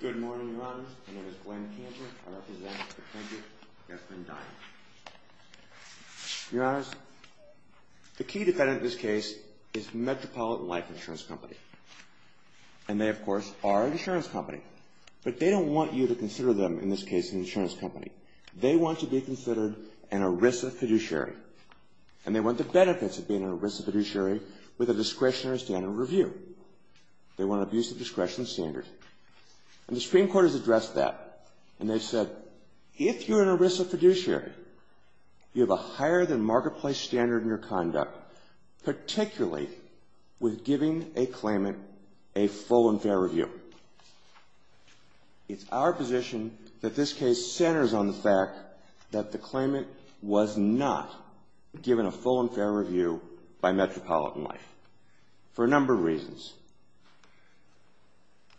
Good morning, Your Honors. My name is Glenn Cantor. I represent the plaintiff, Jesslyn Dine. Your Honors, the key defendant in this case is Metropolitan Life Insurance Company. And they, of course, are an insurance company. But they don't want you to consider them, in this case, an insurance company. They want to be considered an ERISA fiduciary. And they want the benefits of being an ERISA fiduciary with a discretionary standard of review. They want an abusive discretion standard. And the Supreme Court has addressed that. And they've said, if you're an ERISA fiduciary, you have a higher-than-marketplace standard in your conduct, particularly with giving a claimant a full and fair review. It's our position that this case centers on the fact that the claimant was not given a full and fair review by Metropolitan Life. For a number of reasons.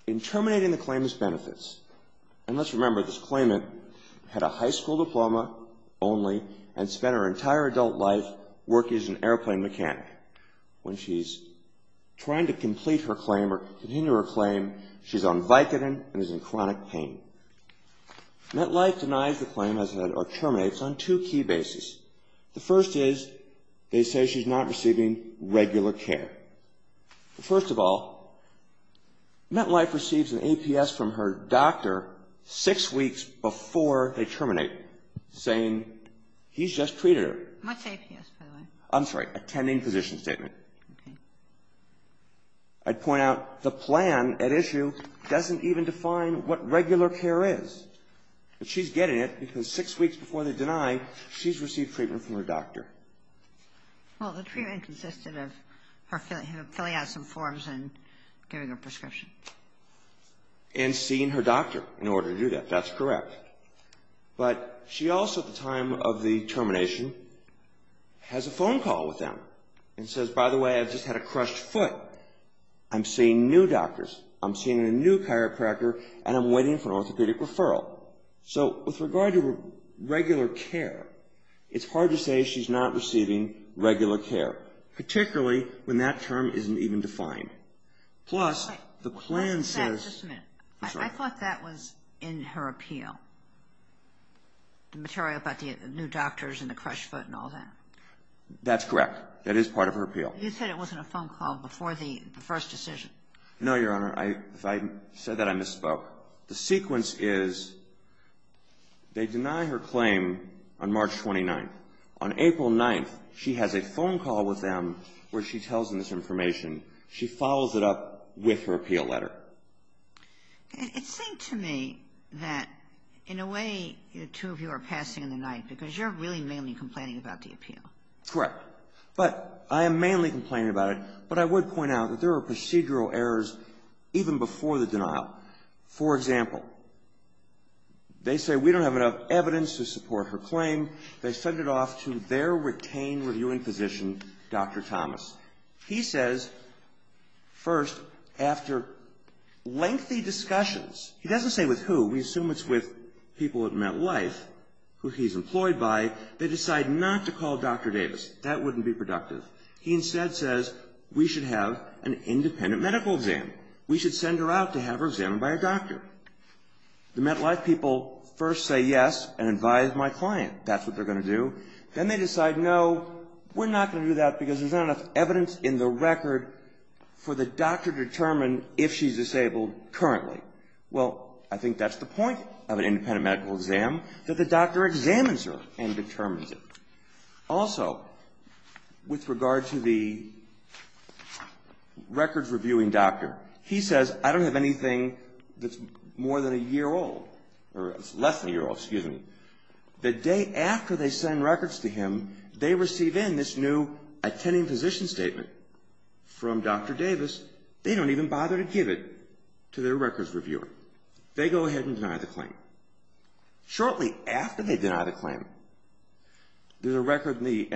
In terminating the claimant's benefits, and let's remember this claimant had a high school diploma only and spent her entire adult life working as an airplane mechanic. When she's trying to complete her claim or continue her claim, she's on Vicodin and is in chronic pain. MetLife denies the claim or terminates on two key bases. The first is they say she's not receiving regular care. First of all, MetLife receives an APS from her doctor six weeks before they terminate, saying he's just treated her. What's APS, by the way? I'm sorry, attending physician statement. Okay. I'd point out the plan at issue doesn't even define what regular care is. But she's getting it because six weeks before they deny, she's received treatment from her doctor. Well, the treatment consisted of her filling out some forms and getting a prescription. And seeing her doctor in order to do that. That's correct. But she also, at the time of the termination, has a phone call with them and says, by the way, I've just had a crushed foot. I'm seeing new doctors. I'm seeing a new chiropractor and I'm waiting for an orthopedic referral. So with regard to regular care, it's hard to say she's not receiving regular care. Particularly when that term isn't even defined. I thought that was in her appeal. The material about the new doctors and the crushed foot and all that. That's correct. That is part of her appeal. You said it wasn't a phone call before the first decision. No, Your Honor. If I said that, I misspoke. The sequence is they deny her claim on March 29th. On April 9th, she has a phone call with them where she tells them this information. She follows it up with her appeal letter. It seemed to me that, in a way, the two of you are passing in the night because you're really mainly complaining about the appeal. Correct. But I am mainly complaining about it. But I would point out that there are procedural errors even before the denial. For example, they say we don't have enough evidence to support her claim. They send it off to their retained reviewing physician, Dr. Thomas. He says, first, after lengthy discussions, he doesn't say with who. We assume it's with people at MetLife who he's employed by. They decide not to call Dr. Davis. That wouldn't be productive. He instead says we should have an independent medical exam. We should send her out to have her examined by a doctor. The MetLife people first say yes and advise my client that's what they're going to do. Then they decide no, we're not going to do that because there's not enough evidence in the record for the doctor to determine if she's disabled currently. Well, I think that's the point of an independent medical exam, that the doctor examines her and determines it. Also, with regard to the records reviewing doctor, he says I don't have anything that's more than a year old, or less than a year old, excuse me. The day after they send records to him, they receive in this new attending physician statement from Dr. Davis. They don't even bother to give it to their records reviewer. They go ahead and deny the claim. Shortly after they deny the claim, there's an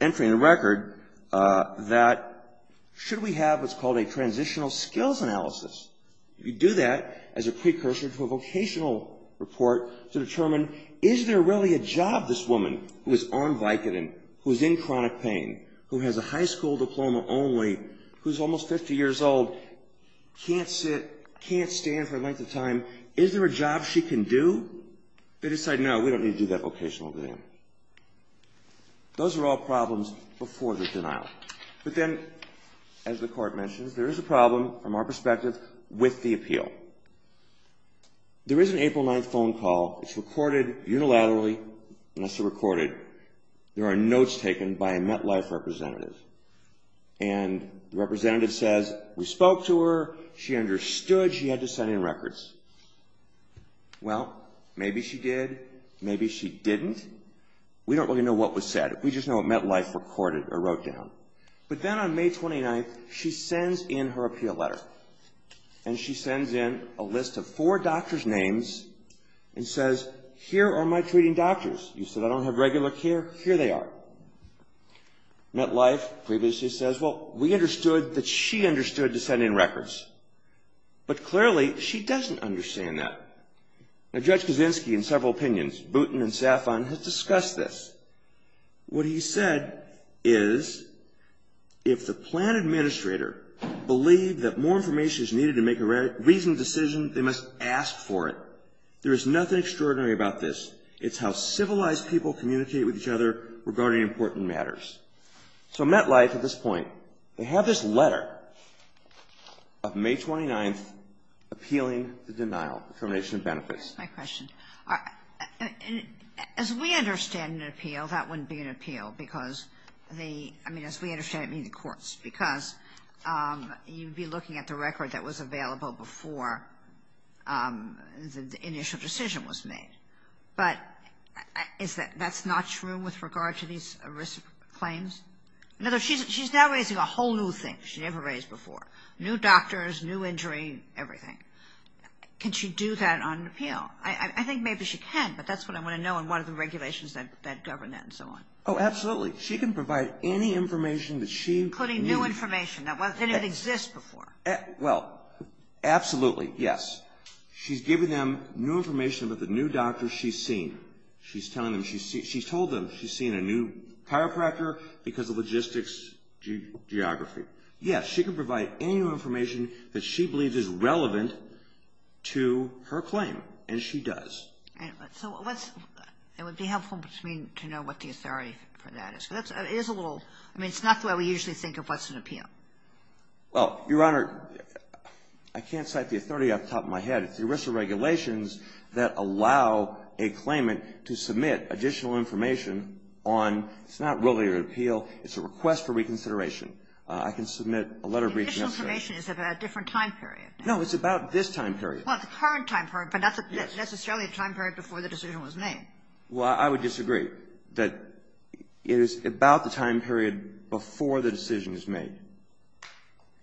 entry in the record that should we have what's called a transitional skills analysis? You do that as a precursor to a vocational report to determine is there really a job this woman who is on Vicodin, who is in chronic pain, who has a high school diploma only, who's almost 50 years old, can't sit, can't stand for the length of time, is there a job she can do? They decide no, we don't need to do that vocational exam. Those are all problems before the denial. But then, as the court mentions, there is a problem from our perspective with the appeal. There is an April 9th phone call. It's recorded unilaterally, unless they're recorded. There are notes taken by a MetLife representative. And the representative says we spoke to her, she understood she had to send in records. Well, maybe she did, maybe she didn't. We don't really know what was said. We just know it MetLife recorded or wrote down. But then on May 29th, she sends in her appeal letter. And she sends in a list of four doctors' names and says, here are my treating doctors. You said I don't have regular care. Here they are. MetLife previously says, well, we understood that she understood to send in records. But clearly, she doesn't understand that. Now, Judge Kaczynski, in several opinions, Booten and Saffron, has discussed this. What he said is, if the plan administrator believed that more information is needed to make a reasonable decision, they must ask for it. There is nothing extraordinary about this. It's how civilized people communicate with each other regarding important matters. So MetLife, at this point, they have this letter of May 29th appealing the denial, determination of benefits. My question. As we understand an appeal, that wouldn't be an appeal because the ‑‑ I mean, as we understand it in the courts, because you'd be looking at the record that was available before the initial decision was made. But that's not true with regard to these risk claims? In other words, she's now raising a whole new thing she never raised before. New doctors, new injury, everything. Can she do that on an appeal? I think maybe she can, but that's what I want to know and what are the regulations that govern that and so on. Oh, absolutely. She can provide any information that she needs. Including new information that didn't even exist before. Well, absolutely, yes. She's giving them new information about the new doctors she's seen. She's telling them ‑‑ she's told them she's seen a new chiropractor because of logistics geography. Yes, she can provide any new information that she believes is relevant to her claim, and she does. So what's ‑‑ it would be helpful for me to know what the authority for that is. It is a little ‑‑ I mean, it's not the way we usually think of what's an appeal. Well, Your Honor, I can't cite the authority off the top of my head. It's the original regulations that allow a claimant to submit additional information on ‑‑ it's not really an appeal. It's a request for reconsideration. I can submit a letter of reconsideration. Additional information is about a different time period. No, it's about this time period. Well, it's a current time period, but that's necessarily a time period before the decision was made. Well, I would disagree that it is about the time period before the decision is made.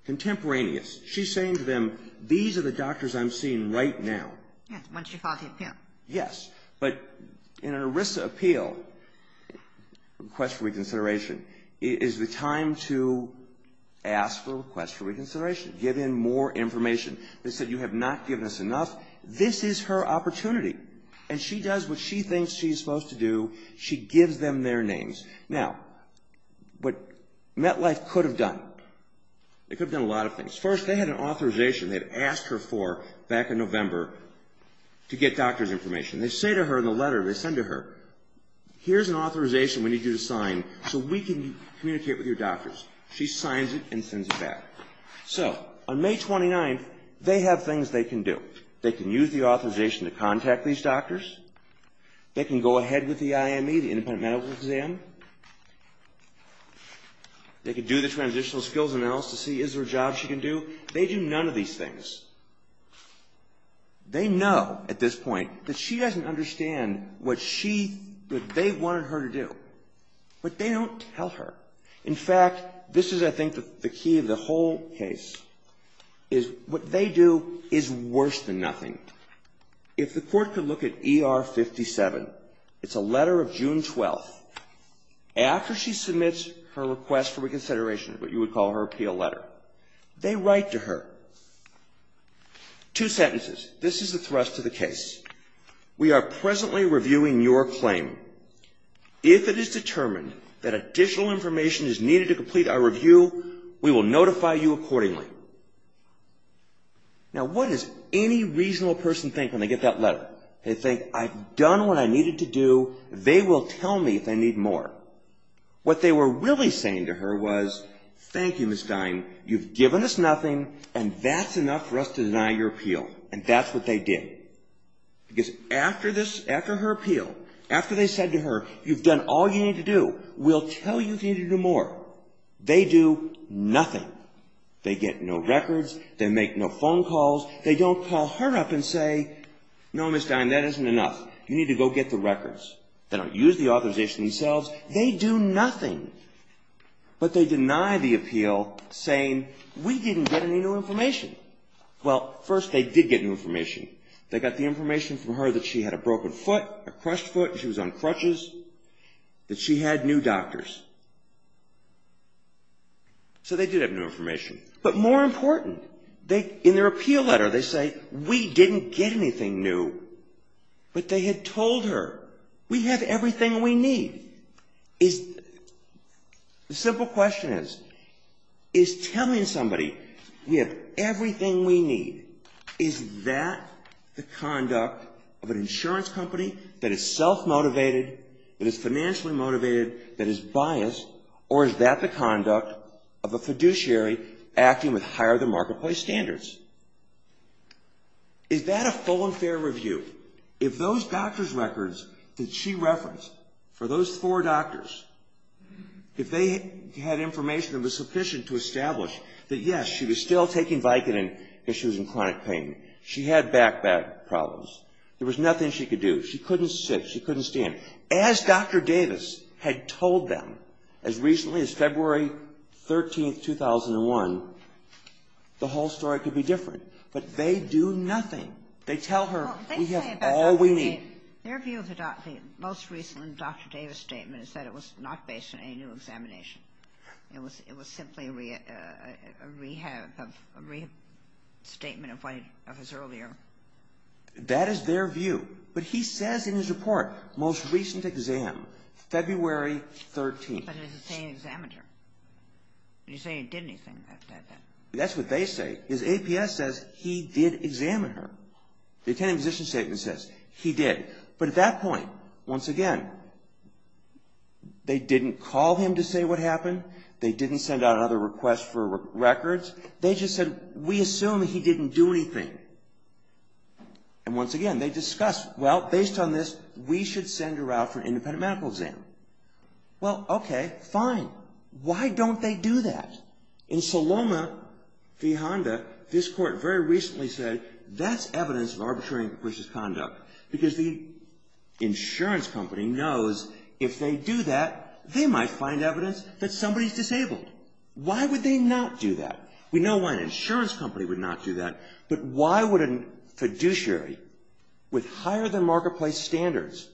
Contemporaneous. She's saying to them, these are the doctors I'm seeing right now. Yes, once you file the appeal. Yes, but in an ERISA appeal, request for reconsideration, is the time to ask for a request for reconsideration, give in more information. They said, you have not given us enough. This is her opportunity, and she does what she thinks she's supposed to do. She gives them their names. Now, what MetLife could have done, they could have done a lot of things. First, they had an authorization they had asked her for back in November to get doctors' information. They say to her in the letter, they send to her, here's an authorization we need you to sign so we can communicate with your doctors. She signs it and sends it back. So, on May 29th, they have things they can do. They can use the authorization to contact these doctors. They can go ahead with the IME, the independent medical exam. They can do the transitional skills analysis to see is there a job she can do. They do none of these things. They know at this point that she doesn't understand what she, what they wanted her to do. But they don't tell her. In fact, this is, I think, the key of the whole case, is what they do is worse than nothing. If the court could look at ER 57, it's a letter of June 12th. After she submits her request for reconsideration, what you would call her appeal letter, they write to her. Two sentences. This is a thrust to the case. We are presently reviewing your claim. If it is determined that additional information is needed to complete our review, we will notify you accordingly. Now, what does any reasonable person think when they get that letter? They think, I've done what I needed to do. They will tell me if I need more. What they were really saying to her was, thank you, Ms. Dine. You've given us nothing, and that's enough for us to deny your appeal. And that's what they did. Because after her appeal, after they said to her, you've done all you need to do. We'll tell you if you need to do more. They do nothing. They get no records. They make no phone calls. They don't call her up and say, no, Ms. Dine, that isn't enough. You need to go get the records. They don't use the authorization themselves. They do nothing. But they deny the appeal, saying, we didn't get any new information. Well, first, they did get new information. They got the information from her that she had a broken foot, a crushed foot. She was on crutches. That she had new doctors. So they did have new information. But more important, in their appeal letter, they say, we didn't get anything new. But they had told her, we have everything we need. The simple question is, is telling somebody, we have everything we need, is that the conduct of an insurance company that is self-motivated, that is financially motivated, that is biased, or is that the conduct of a fiduciary acting with higher than marketplace standards? Is that a full and fair review? If those doctors' records that she referenced, for those four doctors, she was still taking Vicodin if she was in chronic pain. She had back-to-back problems. There was nothing she could do. She couldn't sit. She couldn't stand. As Dr. Davis had told them, as recently as February 13, 2001, the whole story could be different. But they do nothing. They tell her, we have all we need. Their view of the most recent Dr. Davis statement is that it was not based on any new examination. It was simply a rehab statement of his earlier. That is their view. But he says in his report, most recent exam, February 13. But it doesn't say he examined her. He didn't say he did anything. That's what they say. His APS says he did examine her. The attending physician's statement says he did. But at that point, once again, they didn't call him to say what happened. They didn't send out another request for records. They just said, we assume he didn't do anything. And once again, they discussed, well, based on this, we should send her out for an independent medical exam. Well, okay, fine. Why don't they do that? In Saloma v. Honda, this court very recently said, that's evidence of arbitrary and capricious conduct. Because the insurance company knows if they do that, they might find evidence that somebody's disabled. Why would they not do that? We know why an insurance company would not do that. But why would a fiduciary with higher than marketplace standards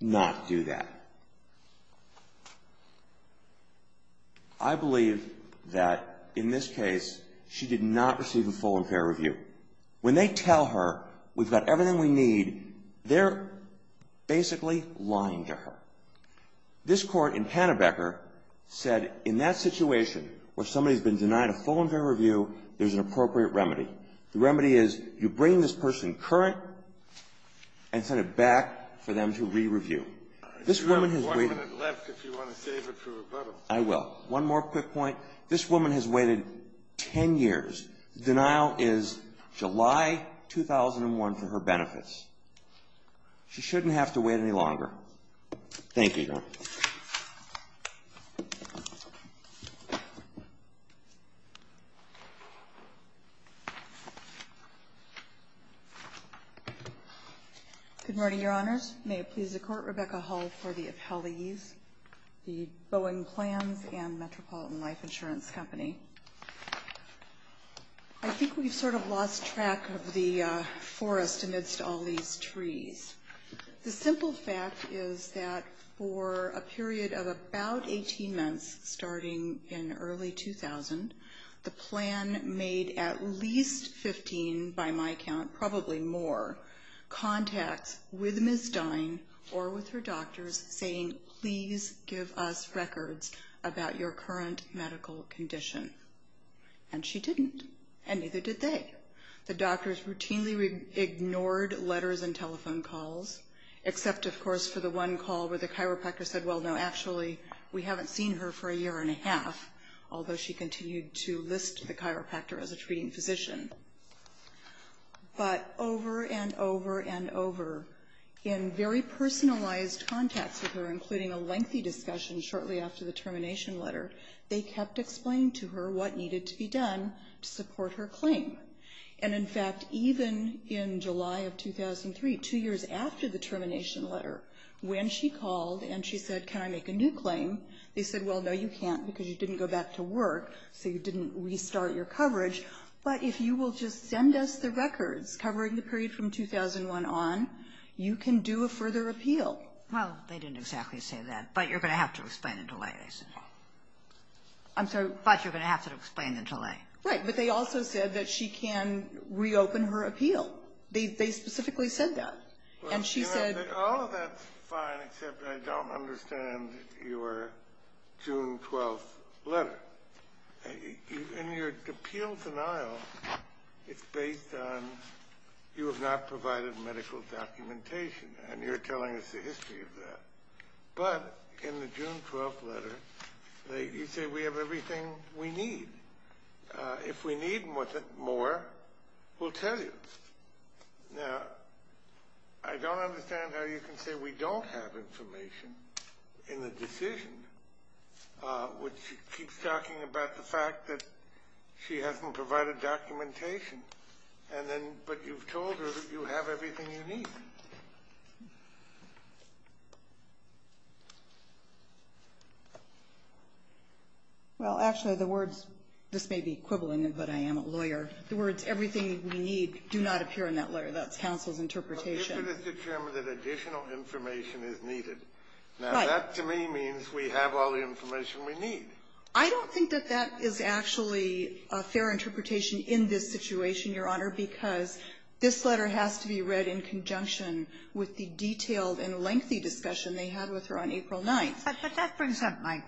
not do that? I believe that in this case, she did not receive a full and fair review. When they tell her, we've got everything we need, they're basically lying to her. This court in Pannebecker said, in that situation where somebody's been denied a full and fair review, there's an appropriate remedy. The remedy is, you bring this person current and send it back for them to re-review. This woman has waited I do have one minute left if you want to save it for rebuttal. I will. One more quick point. This woman has waited 10 years. The denial is July 2001 for her benefits. She shouldn't have to wait any longer. Thank you. You may be dropped. Good morning, Your Honors. May it please the Court, Rebecca Hull for the appellees, the Boeing Plans and Metropolitan Life Insurance Company. I think we've sort of lost track of the forest amidst all these trees. The simple fact is that for a period of about 18 months, starting in early 2000, the plan made at least 15, by my count probably more, contacts with Ms. Dine or with her doctors saying, please give us records about your current medical condition. And she didn't. And neither did they. The doctors routinely ignored letters and telephone calls, except, of course, for the one call where the chiropractor said, well, no, actually, we haven't seen her for a year and a half, although she continued to list the chiropractor as a treating physician. But over and over and over, in very personalized contacts with her, including a lengthy discussion shortly after the termination letter, they kept explaining to her what needed to be done to support her claim. And, in fact, even in July of 2003, two years after the termination letter, when she called and she said, can I make a new claim, they said, well, no, you can't, because you didn't go back to work, so you didn't restart your coverage. But if you will just send us the records covering the period from 2001 on, you can do a further appeal. Well, they didn't exactly say that. But you're going to have to explain the delay, they said. I'm sorry, but you're going to have to explain the delay. Right. But they also said that she can reopen her appeal. They specifically said that. And she said… All of that's fine, except I don't understand your June 12th letter. In your appeal denial, it's based on you have not provided medical documentation. And you're telling us the history of that. But in the June 12th letter, you say we have everything we need. If we need more, we'll tell you. Now, I don't understand how you can say we don't have information in the decision, which keeps talking about the fact that she hasn't provided documentation. And then, but you've told her that you have everything you need. Well, actually, the words, this may be equivalent, but I am a lawyer. The words everything we need do not appear in that letter. That's counsel's interpretation. Well, if it is determined that additional information is needed. Right. I don't think that that is actually a fair interpretation in this situation, Your Honor, because this letter has to be read in conjunction with the detailed and lengthy discussion they had with her on April 9th. But that brings up my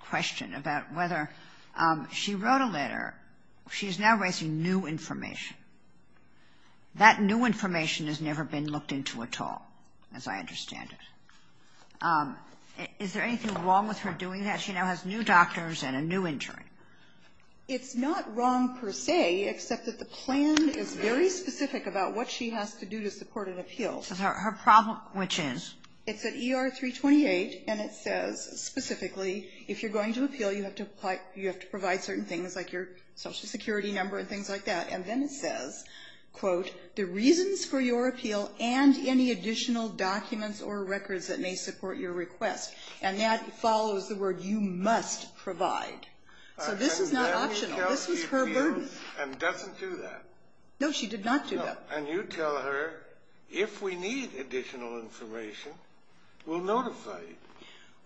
question about whether she wrote a letter. She's now raising new information. That new information has never been looked into at all, as I understand it. Is there anything wrong with her doing that? She now has new doctors and a new injury. It's not wrong per se, except that the plan is very specific about what she has to do to support an appeal. Her problem, which is? It's at ER 328, and it says specifically, if you're going to appeal, you have to provide certain things like your Social Security number and things like that. And then it says, quote, the reasons for your appeal and any additional documents or records that may support your request. And that follows the word, you must provide. So this is not optional. This is her burden. And then she appeals and doesn't do that. No, she did not do that. No. And you tell her, if we need additional information, we'll notify you.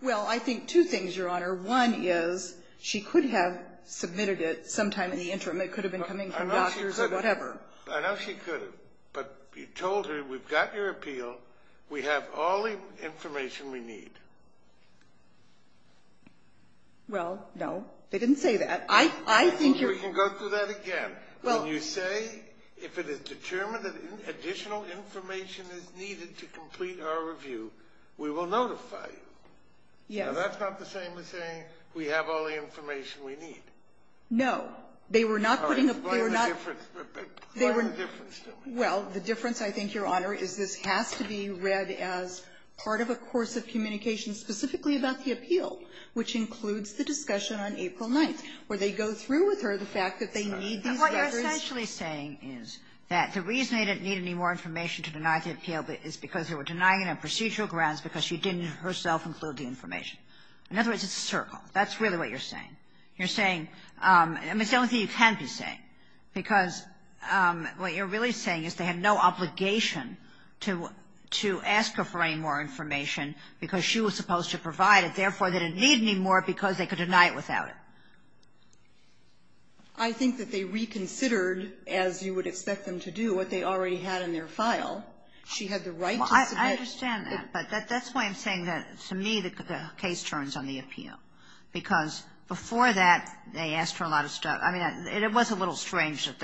Well, I think two things, Your Honor. One is she could have submitted it sometime in the interim. It could have been coming from doctors or whatever. I know she could have. But you told her, we've got your appeal. We have all the information we need. Well, no. They didn't say that. I think you're- We can go through that again. When you say, if it is determined that additional information is needed to complete our review, we will notify you. Yes. Now, that's not the same as saying, we have all the information we need. No. They were not putting a- Well, the difference, I think, Your Honor, is this has to be read as part of a course of communication specifically about the appeal, which includes the discussion on April 9th, where they go through with her the fact that they need these records. What you're essentially saying is that the reason they didn't need any more information to deny the appeal is because they were denying it on procedural grounds because she didn't herself include the information. In other words, it's a circle. That's really what you're saying. You're saying, I mean, it's the only thing you can be saying. Because what you're really saying is they have no obligation to ask her for any more information because she was supposed to provide it. Therefore, they didn't need any more because they could deny it without it. I think that they reconsidered, as you would expect them to do, what they already had in their file. She had the right to submit- I understand that. But that's why I'm saying that, to me, the case turns on the appeal. Because before that, they asked for a lot of stuff. I mean, it was a little strange that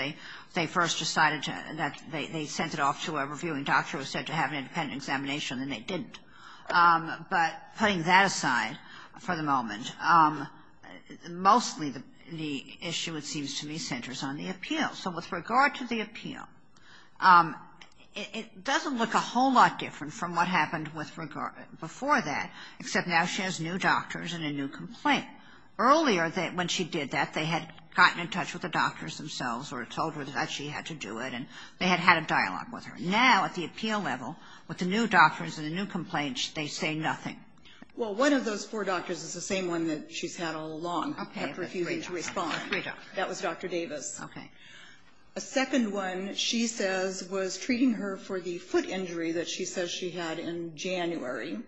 they first decided that they sent it off to a reviewing doctor who said to have an independent examination, and they didn't. But putting that aside for the moment, mostly the issue, it seems to me, centers on the appeal. So with regard to the appeal, it doesn't look a whole lot different from what happened with regard to before that, except now she has new doctors and a new complaint. Earlier, when she did that, they had gotten in touch with the doctors themselves or told her that she had to do it, and they had had a dialogue with her. Now, at the appeal level, with the new doctors and the new complaints, they say nothing. Well, one of those four doctors is the same one that she's had all along, but refusing to respond. That was Dr. Davis. Okay. A second one, she says, was treating her for the foot injury that she says she had in January.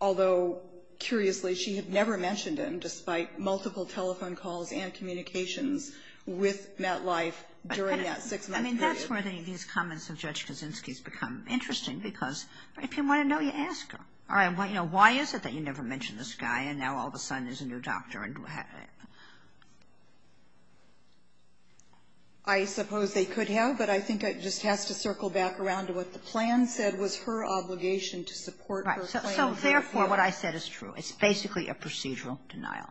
Although, curiously, she had never mentioned him, despite multiple telephone calls and communications with MetLife during that six-month period. I mean, that's where these comments of Judge Kaczynski's become interesting, because if you want to know, you ask her. All right. Why is it that you never mentioned this guy, and now all of a sudden there's a new doctor? I suppose they could have, but I think it just has to circle back around to what the plan said was her obligation to support her plan. Right. So, therefore, what I said is true. It's basically a procedural denial.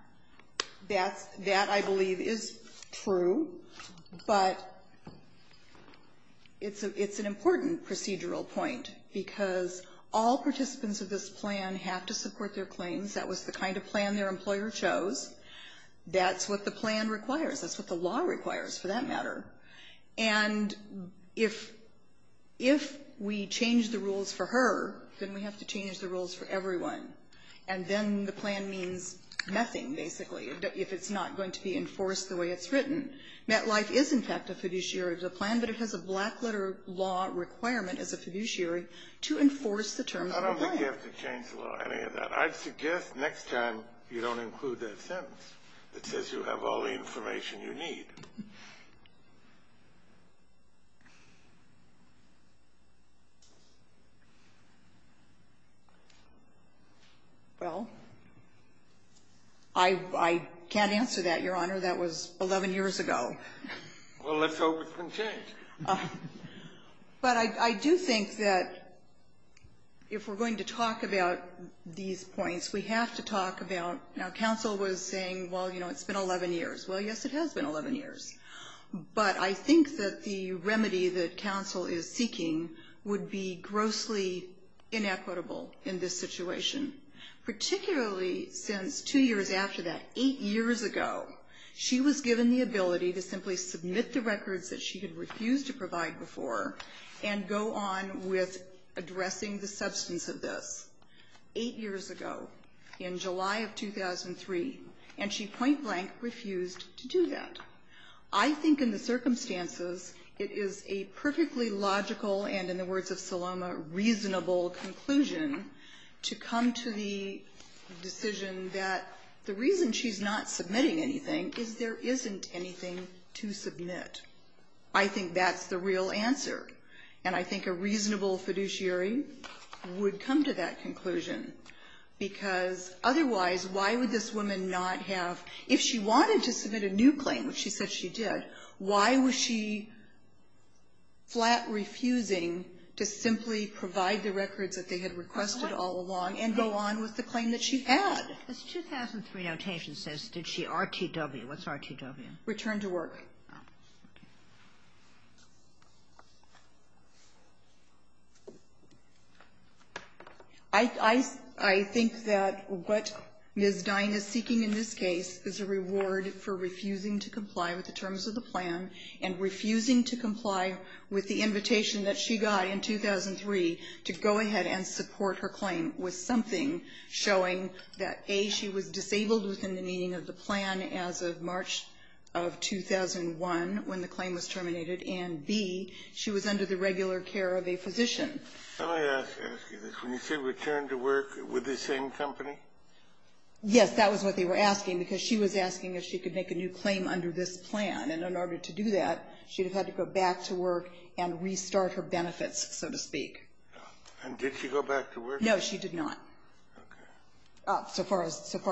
That, I believe, is true, but it's an important procedural point, because all participants of this plan have to support their claims. That was the kind of plan their employer chose. That's what the plan requires. That's what the law requires, for that matter. And if we change the rules for her, then we have to change the rules for everyone, and then the plan means nothing, basically, if it's not going to be enforced the way it's written. MetLife is, in fact, a fiduciary of the plan, but it has a black-letter law requirement as a fiduciary to enforce the terms of the plan. I don't think you have to change the law or any of that. I suggest next time you don't include that sentence that says you have all the information you need. Well, I can't answer that, Your Honor. That was 11 years ago. Well, let's hope it can change. But I do think that if we're going to talk about these points, we have to talk about – now, counsel was saying, well, you know, it's been 11 years. Well, yes, it has been 11 years, but I think that the remedy that counsel is seeking would be grossly inequitable in this situation, particularly since two years after that, eight years ago, she was given the ability to simply submit the records that she had refused to provide before and go on with addressing the substance of this eight years ago in July of 2003, and she point-blank refused to do that. I think in the circumstances, it is a perfectly logical and, in the words of Saloma, reasonable conclusion to come to the decision that the reason she's not submitting anything is there isn't anything to submit. I think that's the real answer, and I think a reasonable fiduciary would come to that conclusion because otherwise, why would this woman not have – if she wanted to submit a new claim, which she said she did, why was she flat refusing to simply provide the records that they had requested all along and go on with the claim that she had? This 2003 notation says, did she RTW? What's RTW? Return to work. I think that what Ms. Dine is seeking in this case is a reward for refusing to comply with the terms of the plan and refusing to comply with the invitation that she got in 2003 to go ahead and support her claim with something showing that, A, she was disabled within the meaning of the plan as of March of 2001 when the claim was terminated, and, B, she was under the regular care of a physician. Scalia, when you say return to work, with the same company? Yes, that was what they were asking because she was asking if she could make a new claim under this plan. And in order to do that, she would have had to go back to work and restart her benefits, so to speak. And did she go back to work? No, she did not. Okay. So far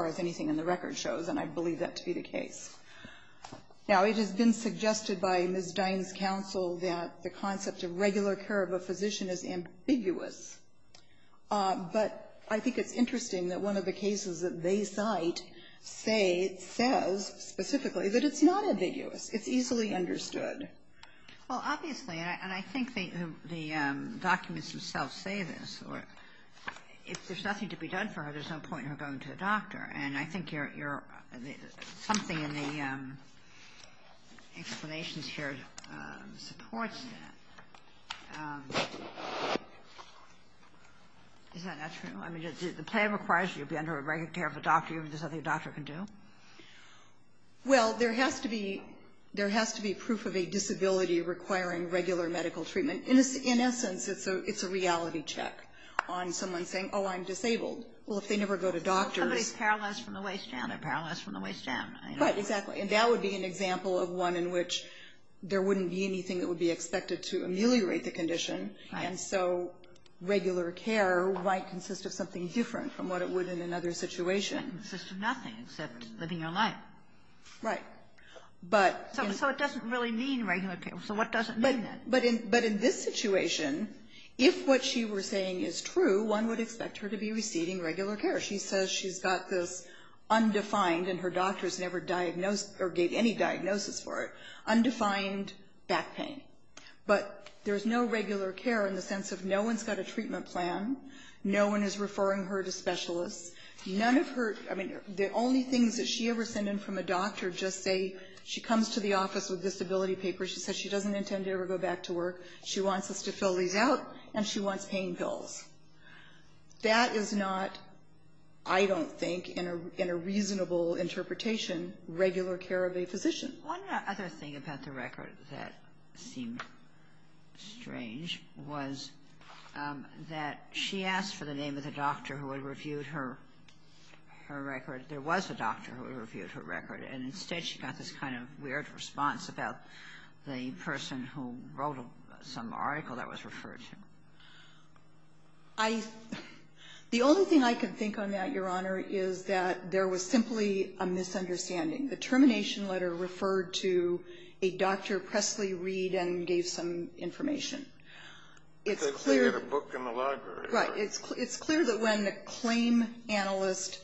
as anything in the record shows, and I believe that to be the case. Now, it has been suggested by Ms. Dine's counsel that the concept of regular care of a physician is ambiguous. But I think it's interesting that one of the cases that they cite says specifically that it's not ambiguous. It's easily understood. Well, obviously, and I think the documents themselves say this. If there's nothing to be done for her, there's no point in her going to a doctor. And I think you're – something in the explanations here supports that. Is that not true? I mean, the plan requires you to be under regular care of a doctor. There's nothing a doctor can do? Well, there has to be proof of a disability requiring regular medical treatment. In essence, it's a reality check on someone saying, oh, I'm disabled. Well, if they never go to doctors – Somebody's paralyzed from the waist down. They're paralyzed from the waist down. Right, exactly. And that would be an example of one in which there wouldn't be anything that would be able to alleviate the condition. Right. And so regular care might consist of something different from what it would in another situation. It consists of nothing except living your life. Right. So it doesn't really mean regular care. So what doesn't mean that? But in this situation, if what she was saying is true, one would expect her to be receiving regular care. She says she's got this undefined – and her doctors never diagnosed or gave any diagnosis for it – undefined back pain. But there's no regular care in the sense of no one's got a treatment plan. No one is referring her to specialists. None of her – I mean, the only things that she ever sent in from a doctor just say she comes to the office with disability papers. She says she doesn't intend to ever go back to work. She wants us to fill these out, and she wants pain pills. That is not, I don't think, in a reasonable interpretation, regular care of a physician. One other thing about the record that seemed strange was that she asked for the name of the doctor who had reviewed her record. There was a doctor who had reviewed her record, and instead she got this kind of weird response about the person who wrote some article that was referred to. I – the only thing I can think on that, Your Honor, is that there was simply a misunderstanding. The termination letter referred to a Dr. Presley Reed and gave some information. It's clear – They had a book in the library. Right. It's clear that when the claim analyst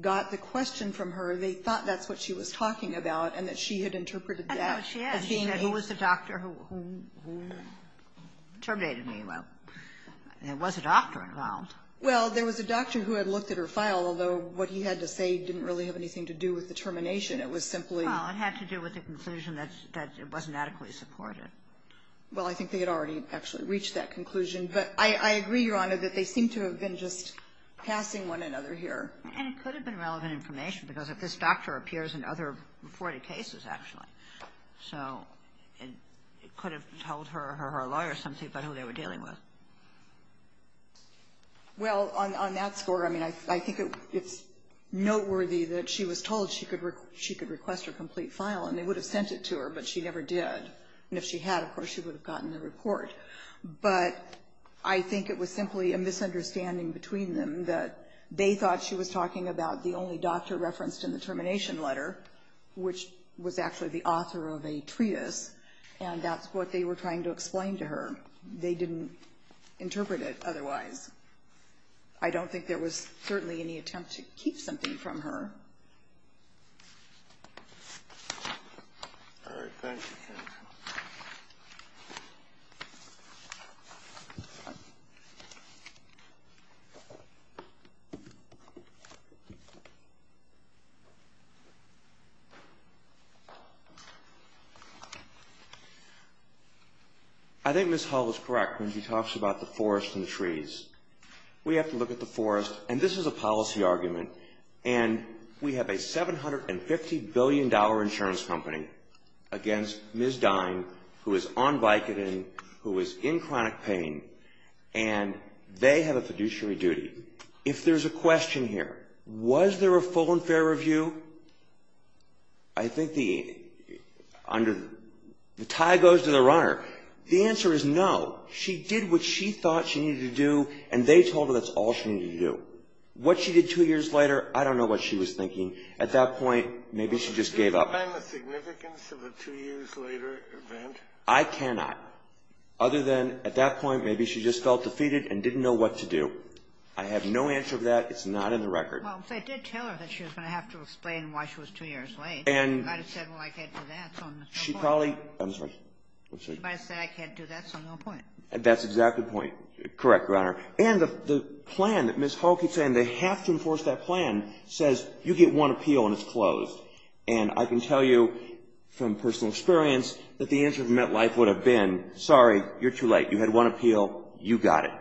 got the question from her, they thought that's what she was talking about and that she had interpreted that as being a – I know she has. She said, who was the doctor who terminated me? Well, there was a doctor involved. Well, there was a doctor who had looked at her file, although what he had to say didn't really have anything to do with the termination. It was simply – Well, it had to do with the conclusion that it wasn't adequately supported. Well, I think they had already actually reached that conclusion. But I agree, Your Honor, that they seem to have been just passing one another here. And it could have been relevant information, because this doctor appears in other reported cases, actually. So it could have told her or her lawyer something about who they were dealing with. Well, on that score, I mean, I think it's noteworthy that she was told she could request her complete file, and they would have sent it to her, but she never did. And if she had, of course, she would have gotten the report. But I think it was simply a misunderstanding between them that they thought she was talking about the only doctor referenced in the termination letter, which was actually the author of a treatise, and that's what they were trying to explain to her. They didn't interpret it otherwise. I don't think there was certainly any attempt to keep something from her. All right. Thank you, counsel. I think Ms. Hull is correct when she talks about the forest and the trees. We have to look at the forest, and this is a policy argument. And we have a $750 billion insurance company against Ms. Dine, who is on Vicodin, who is in chronic pain, and they have a fiduciary duty. If there's a question here, was there a full and fair review, I think the tie goes to the runner. The answer is no. She did what she thought she needed to do, and they told her that's all she needed to do. What she did two years later, I don't know what she was thinking. At that point, maybe she just gave up. Can you explain the significance of a two years later event? I cannot. Other than at that point, maybe she just felt defeated and didn't know what to do. I have no answer to that. It's not in the record. Well, if they did tell her that she was going to have to explain why she was two years late, she might have said, well, I can't do that, so no point. I'm sorry. She might have said, I can't do that, so no point. That's exactly the point. Correct, Your Honor. And the plan that Ms. Hull keeps saying they have to enforce that plan says you get one appeal and it's closed. And I can tell you from personal experience that the answer to MetLife would have been, sorry, you're too late. You had one appeal. You got it.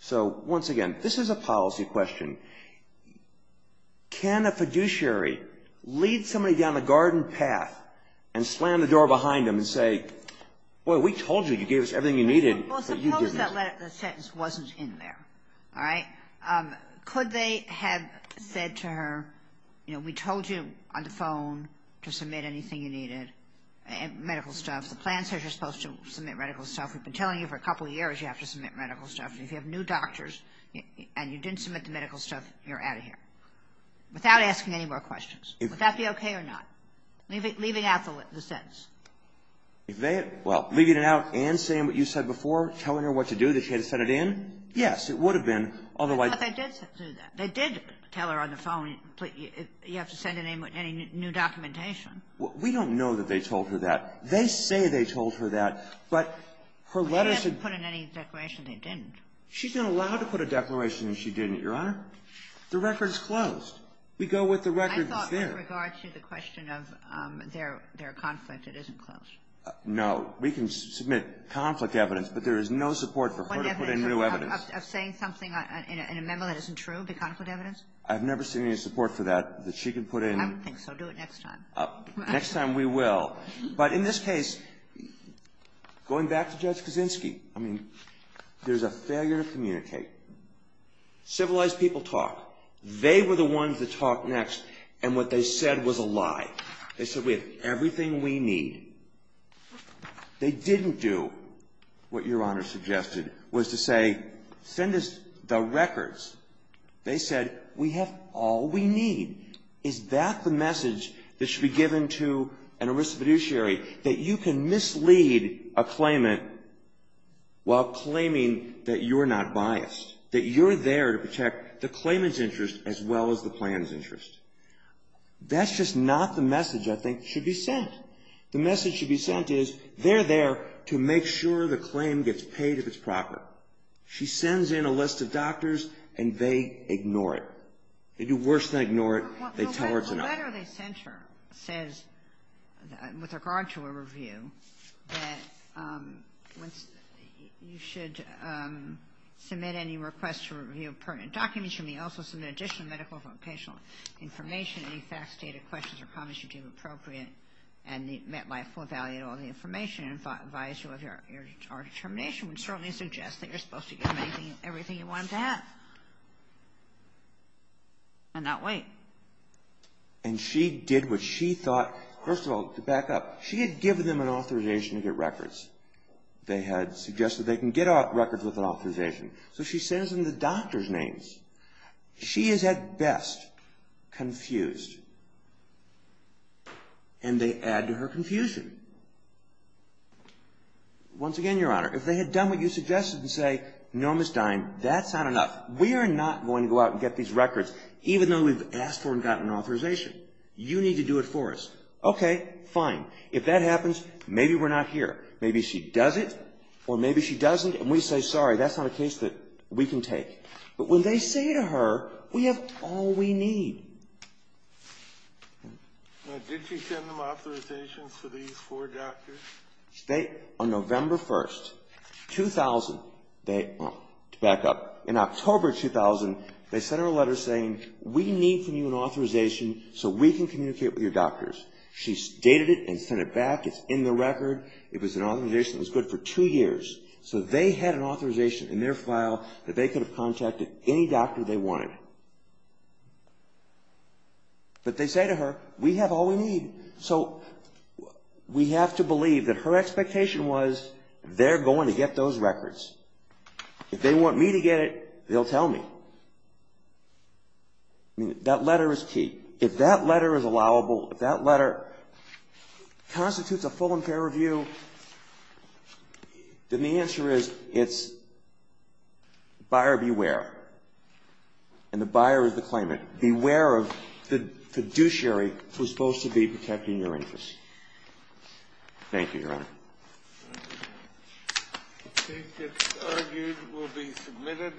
So, once again, this is a policy question. Can a fiduciary lead somebody down the garden path and slam the door behind them and say, well, we told you. You gave us everything you needed. Well, suppose that sentence wasn't in there, all right? Could they have said to her, you know, we told you on the phone to submit anything you needed, medical stuff. The plan says you're supposed to submit medical stuff. We've been telling you for a couple years you have to submit medical stuff. If you have new doctors and you didn't submit the medical stuff, you're out of here without asking any more questions. Would that be okay or not, leaving out the sentence? If they had, well, leaving it out and saying what you said before, telling her what to do, that she had to send it in? Yes, it would have been. Otherwise. But they did do that. They did tell her on the phone, you have to send in any new documentation. Well, we don't know that they told her that. They say they told her that, but her letters had been put in any declaration they didn't. She's been allowed to put a declaration that she didn't, Your Honor. The record's closed. We go with the record that's there. With regard to the question of their conflict, it isn't closed. No. We can submit conflict evidence, but there is no support for her to put in new evidence. Of saying something in a memo that isn't true, the conflict evidence? I've never seen any support for that, that she can put in. I don't think so. Do it next time. Next time we will. But in this case, going back to Judge Kaczynski, I mean, there's a failure to communicate. Civilized people talk. They were the ones that talked next, and what they said was a lie. They said, we have everything we need. They didn't do what Your Honor suggested, was to say, send us the records. They said, we have all we need. Is that the message that should be given to an arrested fiduciary, that you can mislead a claimant while claiming that you're not biased, that you're there to protect the claimant's interest as well as the plan's interest? That's just not the message I think should be sent. The message should be sent is, they're there to make sure the claim gets paid if it's proper. She sends in a list of doctors, and they ignore it. They do worse than ignore it. They tell her it's not. The letter they sent her says, with regard to a review, that you should submit any request to review pertinent documents. You may also submit additional medical or vocational information, any facts, data, questions, or comments you deem appropriate, and MetLife will evaluate all the information and advise you of your determination, which certainly suggests that you're supposed to get everything you wanted to have and not wait. And she did what she thought, first of all, to back up, she had given them an authorization to get records. They had suggested they can get records with an authorization. So she sends them the doctor's names. She is at best confused, and they add to her confusion. Once again, Your Honor, if they had done what you suggested and say, no, Ms. Dine, that's not enough. We are not going to go out and get these records, even though we've asked for and gotten authorization. You need to do it for us. Okay, fine. If that happens, maybe we're not here. Maybe she does it, or maybe she doesn't, and we say, sorry, that's not a case that we can take. But when they say to her, we have all we need. Did she send them authorizations for these four doctors? On November 1st, 2000, to back up, in October 2000, they sent her a letter saying, we need from you an authorization so we can communicate with your doctors. She stated it and sent it back. It's in the record. It was an authorization that was good for two years. So they had an authorization in their file that they could have contacted any doctor they wanted. But they say to her, we have all we need. So we have to believe that her expectation was, they're going to get those records. If they want me to get it, they'll tell me. I mean, that letter is key. If that letter is allowable, if that letter constitutes a full and fair review, then the answer is, it's buyer beware. And the buyer is the claimant. Beware of the fiduciary who's supposed to be protecting your interests. Thank you, Your Honor. The case gets argued, will be submitted.